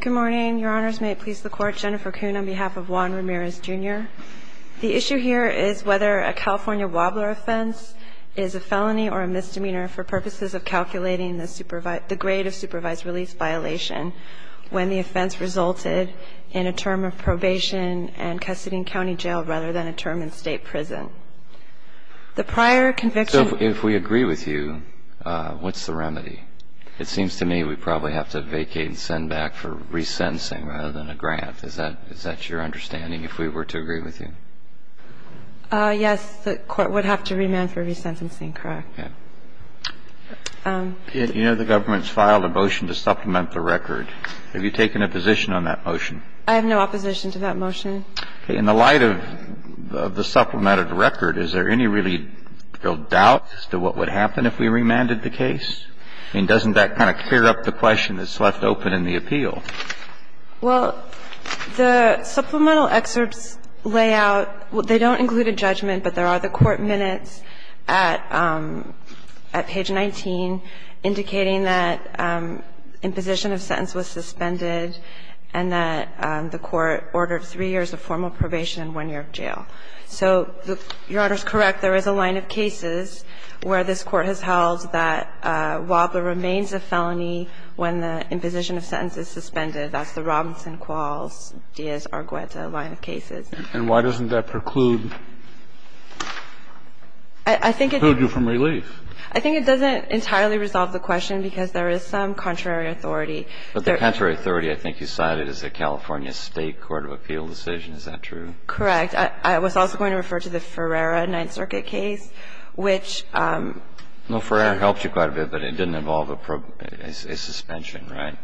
Good morning. Your Honors, may it please the Court, Jennifer Kuhn on behalf of Juan Ramirez, Jr. The issue here is whether a California wobbler offense is a felony or a misdemeanor for purposes of calculating the grade of supervised release violation when the offense resulted in a term of probation and custody in county jail rather than a term in state prison. The prior conviction... So if we agree with you, what's the remedy? It seems to me we probably have to vacate and send back for resentencing rather than a grant. Is that your understanding, if we were to agree with you? Yes, the Court would have to remand for resentencing, correct. Yeah. You know the government's filed a motion to supplement the record. Have you taken a position on that motion? I have no opposition to that motion. In the light of the supplemented record, is there any really real doubt as to what would happen if we remanded the case? I mean, doesn't that kind of clear up the question that's left open in the appeal? Well, the supplemental excerpts lay out they don't include a judgment, but there are the court minutes at page 19 indicating that imposition of sentence was suspended and that the court ordered three years of formal probation and one year of jail. So Your Honor's correct. There is a line of cases where this Court has held that Wabler remains a felony when the imposition of sentence is suspended. That's the Robinson, Qualls, Diaz, Argueta line of cases. And why doesn't that preclude you from relief? I think it doesn't entirely resolve the question because there is some contrary authority. But the contrary authority I think you cited is the California State Court of Appeal decision. Is that true? Correct. I was also going to refer to the Ferreira Ninth Circuit case, which ---- Well, Ferreira helped you quite a bit, but it didn't involve a suspension, right?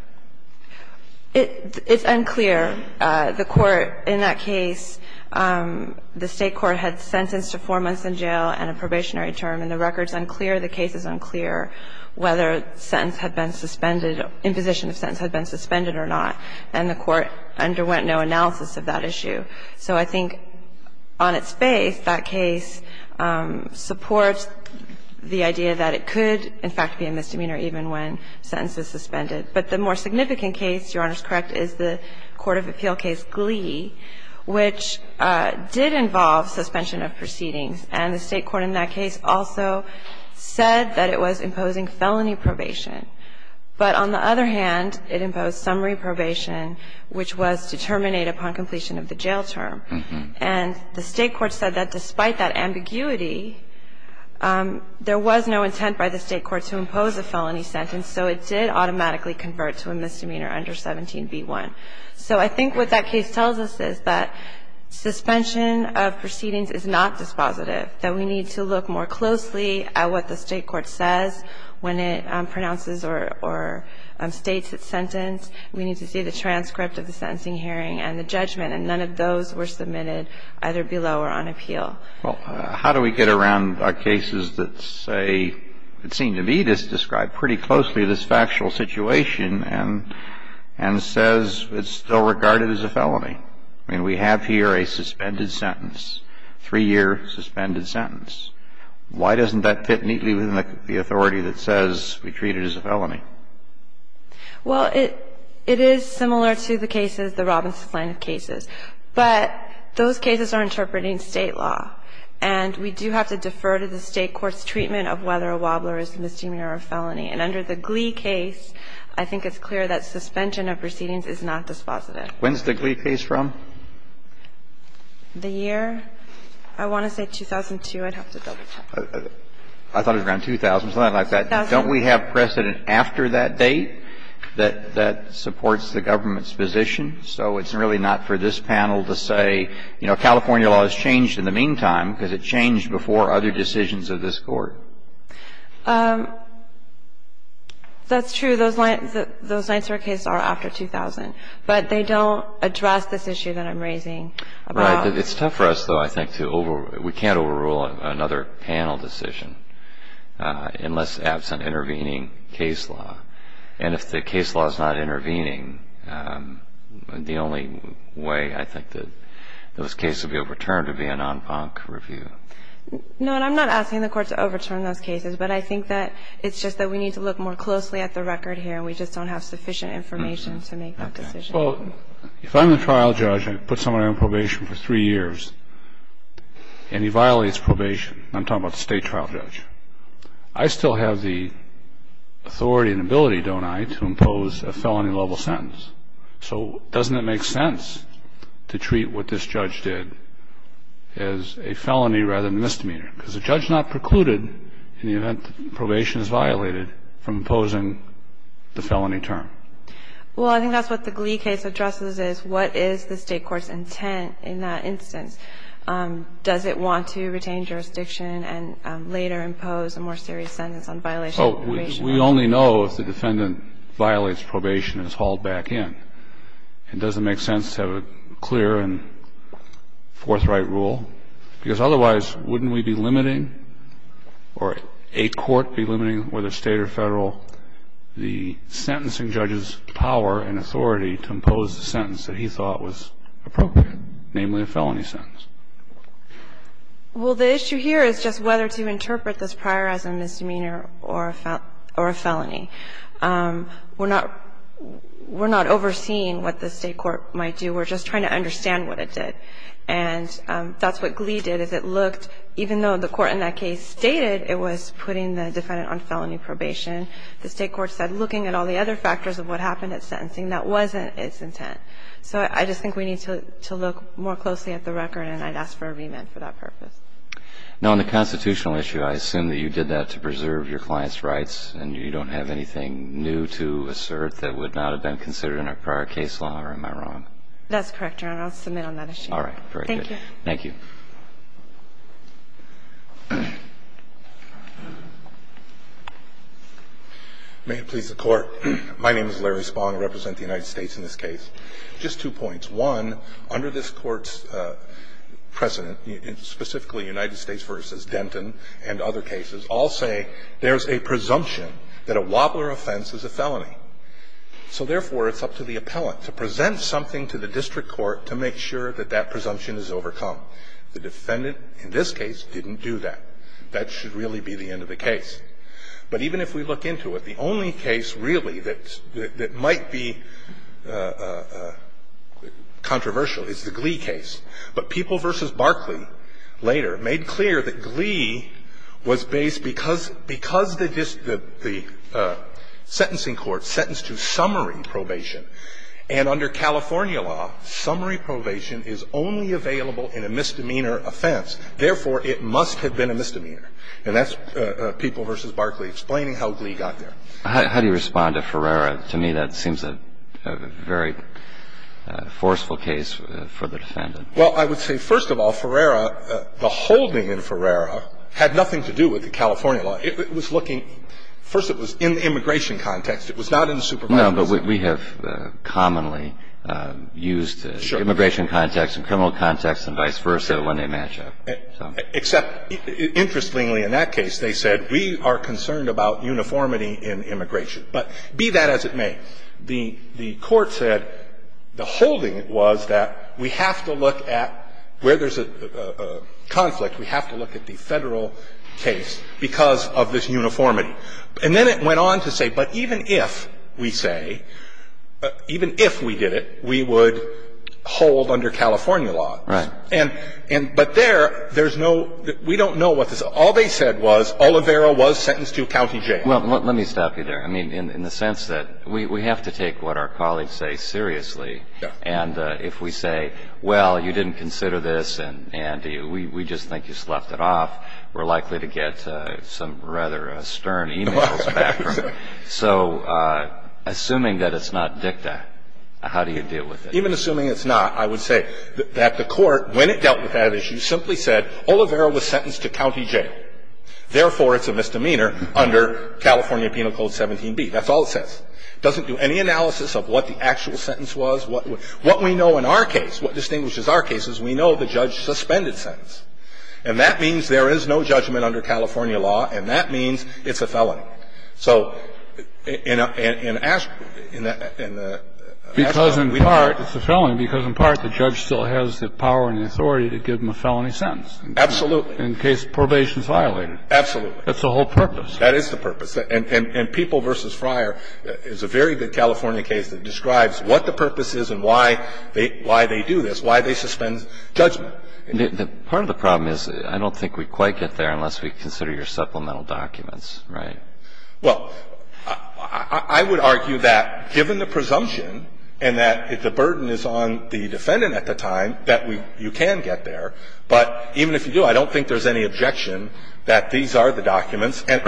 It's unclear. The Court in that case, the State court had sentenced to four months in jail and a probationary term, and the record is unclear. The case is unclear whether sentence had been suspended, imposition of sentence had been suspended or not. And the Court underwent no analysis of that issue. So I think on its face, that case supports the idea that it could, in fact, be a misdemeanor even when sentence is suspended. But the more significant case, Your Honor's correct, is the Court of Appeal case Glee, which did involve suspension of proceedings. And the State court in that case also said that it was imposing felony probation. But on the other hand, it imposed summary probation, which was to terminate upon completion of the jail term. And the State court said that despite that ambiguity, there was no intent by the State court to impose a felony sentence, so it did automatically convert to a misdemeanor under 17b1. So I think what that case tells us is that suspension of proceedings is not dispositive that we need to look more closely at what the State court says when it pronounces or states its sentence. We need to see the transcript of the sentencing hearing and the judgment. And none of those were submitted either below or on appeal. Well, how do we get around cases that say, that seem to be described pretty closely to this factual situation and says it's still regarded as a felony? I mean, we have here a suspended sentence, three-year suspended sentence. Why doesn't that fit neatly with the authority that says we treat it as a felony? Well, it is similar to the cases, the Robinson plaintiff cases. But those cases are interpreting State law, and we do have to defer to the State court's treatment of whether a wobbler is a misdemeanor or a felony. And under the Glee case, I think it's clear that suspension of proceedings is not dispositive. When's the Glee case from? The year? I want to say 2002. I'd have to double-check. I thought it was around 2000, something like that. Don't we have precedent after that date that supports the government's position? So it's really not for this panel to say, you know, California law has changed in the meantime because it changed before other decisions of this Court. That's true. Those lines for cases are after 2000. But they don't address this issue that I'm raising. Right. It's tough for us, though, I think, to overrule. We can't overrule another panel decision unless absent intervening case law. And if the case law is not intervening, the only way I think that those cases would be overturned would be a nonpunct review. No, and I'm not asking the Court to overturn those cases. But I think that it's just that we need to look more closely at the record here and we just don't have sufficient information to make that decision. Well, if I'm the trial judge and I put someone on probation for three years and he violates probation, I'm talking about the state trial judge, I still have the authority and ability, don't I, to impose a felony-level sentence. So doesn't it make sense to treat what this judge did as a felony rather than a misdemeanor? Because the judge not precluded in the event that probation is violated from imposing the felony term. Well, I think that's what the Glee case addresses is what is the State court's intent in that instance. Does it want to retain jurisdiction and later impose a more serious sentence on violation of probation? Oh, we only know if the defendant violates probation and is hauled back in. It doesn't make sense to have a clear and forthright rule, because otherwise wouldn't we be limiting or a court be limiting, whether State or Federal, the sentencing judge's power and authority to impose the sentence that he thought was appropriate, namely a felony sentence? Well, the issue here is just whether to interpret this prior as a misdemeanor or a felony. We're not overseeing what the State court might do. We're just trying to understand what it did. And that's what Glee did, is it looked, even though the court in that case stated it was putting the defendant on felony probation, the State court said looking at all the other factors of what happened at sentencing, that wasn't its intent. So I just think we need to look more closely at the record, and I'd ask for a remand for that purpose. Now, on the constitutional issue, I assume that you did that to preserve your client's rights, and you don't have anything new to assert that would not have been considered in a prior case law, or am I wrong? That's correct, Your Honor. I'll submit on that issue. Thank you. May it please the Court. My name is Larry Spong. I represent the United States in this case. Just two points. One, under this Court's precedent, specifically United States v. Denton and other cases, all say there's a presumption that a Wobbler offense is a felony. So therefore, it's up to the appellant to present something to the district court to make sure that that presumption is overcome. The defendant in this case didn't do that. That should really be the end of the case. But even if we look into it, the only case really that might be controversial is the Glee case. But People v. Barkley later made clear that Glee was based because the sentencing court sentenced to summary probation. And under California law, summary probation is only available in a misdemeanor offense. Therefore, it must have been a misdemeanor. And that's People v. Barkley explaining how Glee got there. How do you respond to Ferreira? To me, that seems a very forceful case for the defendant. Well, I would say, first of all, Ferreira, the holding in Ferreira had nothing to do with the California law. It was looking – first, it was in the immigration context. It was not in the supervisory system. No, but we have commonly used immigration context and criminal context and vice versa when they match up. Except, interestingly, in that case, they said, we are concerned about uniformity in immigration. But be that as it may, the court said the holding was that we have to look at where there's a conflict. We have to look at the Federal case because of this uniformity. And then it went on to say, but even if, we say, even if we did it, we would hold under California law. Right. And – but there, there's no – we don't know what the – all they said was Oliveira was sentenced to county jail. Well, let me stop you there. I mean, in the sense that we have to take what our colleagues say seriously. Yes. And if we say, well, you didn't consider this, and we just think you slept it off, we're likely to get some rather stern emails back from you. So assuming that it's not dicta, how do you deal with it? Even assuming it's not, I would say that the court, when it dealt with that issue, simply said Oliveira was sentenced to county jail. Therefore, it's a misdemeanor under California Penal Code 17b. That's all it says. It doesn't do any analysis of what the actual sentence was. What we know in our case, what distinguishes our case is we know the judge suspended sentence. And that means there is no judgment under California law. And that means it's a felony. So in – in the – in the – Because, in part, it's a felony because, in part, the judge still has the power and the authority to give him a felony sentence. Absolutely. In case probation is violated. Absolutely. That's the whole purpose. That is the purpose. And people v. Fryer is a very good California case that describes what the purpose is and why they do this, why they suspend judgment. Part of the problem is I don't think we quite get there unless we consider your supplemental documents, right? Well, I would argue that, given the presumption and that the burden is on the defendant at the time, that you can get there. But even if you do, I don't think there's any objection that these are the documents. Let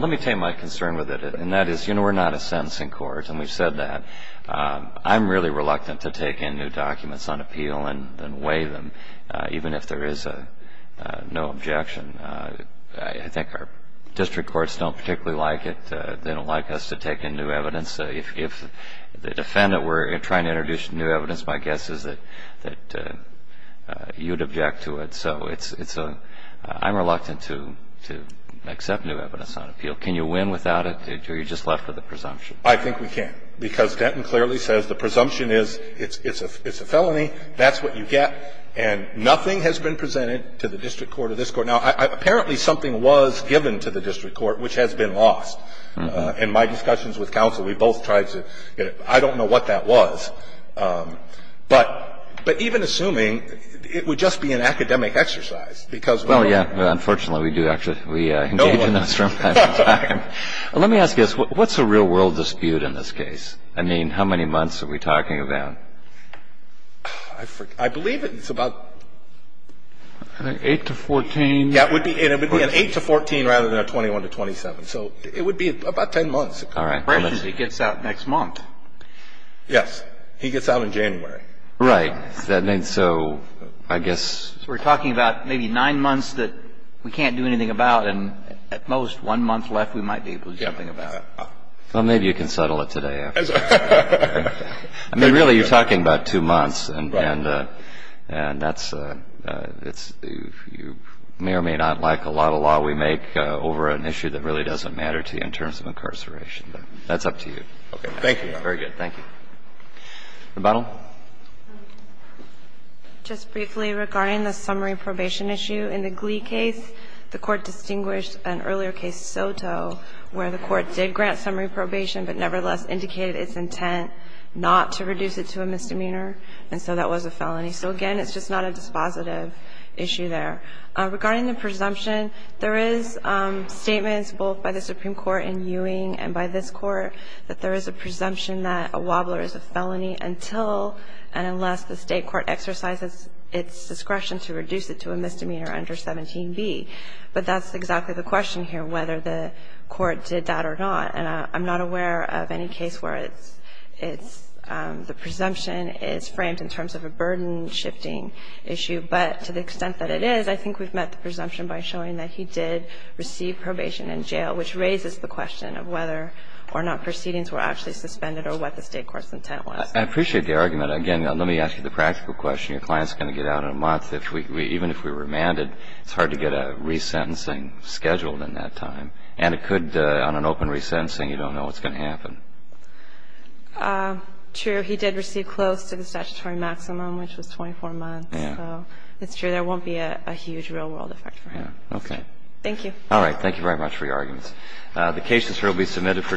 me take my concern with it. And that is, you know, we're not a sentencing court. And we've said that. I'm really reluctant to take in new documents on appeal and weigh them, even if there is no objection. I think our district courts don't particularly like it. They don't like us to take in new evidence. If the defendant were trying to introduce new evidence, my guess is that you'd object to it. So I'm reluctant to accept new evidence on appeal. Can you win without it? Or are you just left with a presumption? I think we can. Because Denton clearly says the presumption is it's a felony, that's what you get, and nothing has been presented to the district court or this court. Now, apparently something was given to the district court which has been lost. In my discussions with counsel, we both tried to get it. I don't know what that was. But even assuming it would just be an academic exercise, because we're all. Well, yeah. Unfortunately, we do actually engage in this from time to time. Let me ask you this. What's a real-world dispute in this case? I mean, how many months are we talking about? I believe it's about. I think 8 to 14. Yeah, it would be an 8 to 14 rather than a 21 to 27. So it would be about 10 months. All right. As soon as he gets out next month. Yes. He gets out in January. Right. And so I guess. We're talking about maybe nine months that we can't do anything about, and at most one month left we might be able to do something about it. Well, maybe you can settle it today. I mean, really, you're talking about two months. And that's. You may or may not like a lot of law we make over an issue that really doesn't matter to you in terms of incarceration. That's up to you. Okay. Thank you, Your Honor. Very good. Thank you. Rebuttal. Just briefly regarding the summary probation issue. In the Glee case, the Court distinguished an earlier case, Soto, where the Court did grant summary probation but nevertheless indicated its intent not to reduce it to a misdemeanor. And so that was a felony. So, again, it's just not a dispositive issue there. Regarding the presumption, there is statements both by the Supreme Court in Ewing and by this Court that there is a presumption that a wobbler is a felony until and unless the state court exercises its discretion to reduce it to a misdemeanor under 17B. But that's exactly the question here, whether the Court did that or not. And I'm not aware of any case where it's the presumption is framed in terms of a burden-shifting issue. But to the extent that it is, I think we've met the presumption by showing that he did receive probation in jail, which raises the question of whether or not proceedings were actually suspended or what the state court's intent was. I appreciate the argument. Again, let me ask you the practical question. Your client is going to get out in a month. Even if we remanded, it's hard to get a resentencing scheduled in that time. And it could, on an open resentencing, you don't know what's going to happen. True. He did receive close to the statutory maximum, which was 24 months. So it's true. There won't be a huge real-world effect for him. Okay. Thank you. All right. Thank you very much for your arguments. The cases here will be submitted for decision.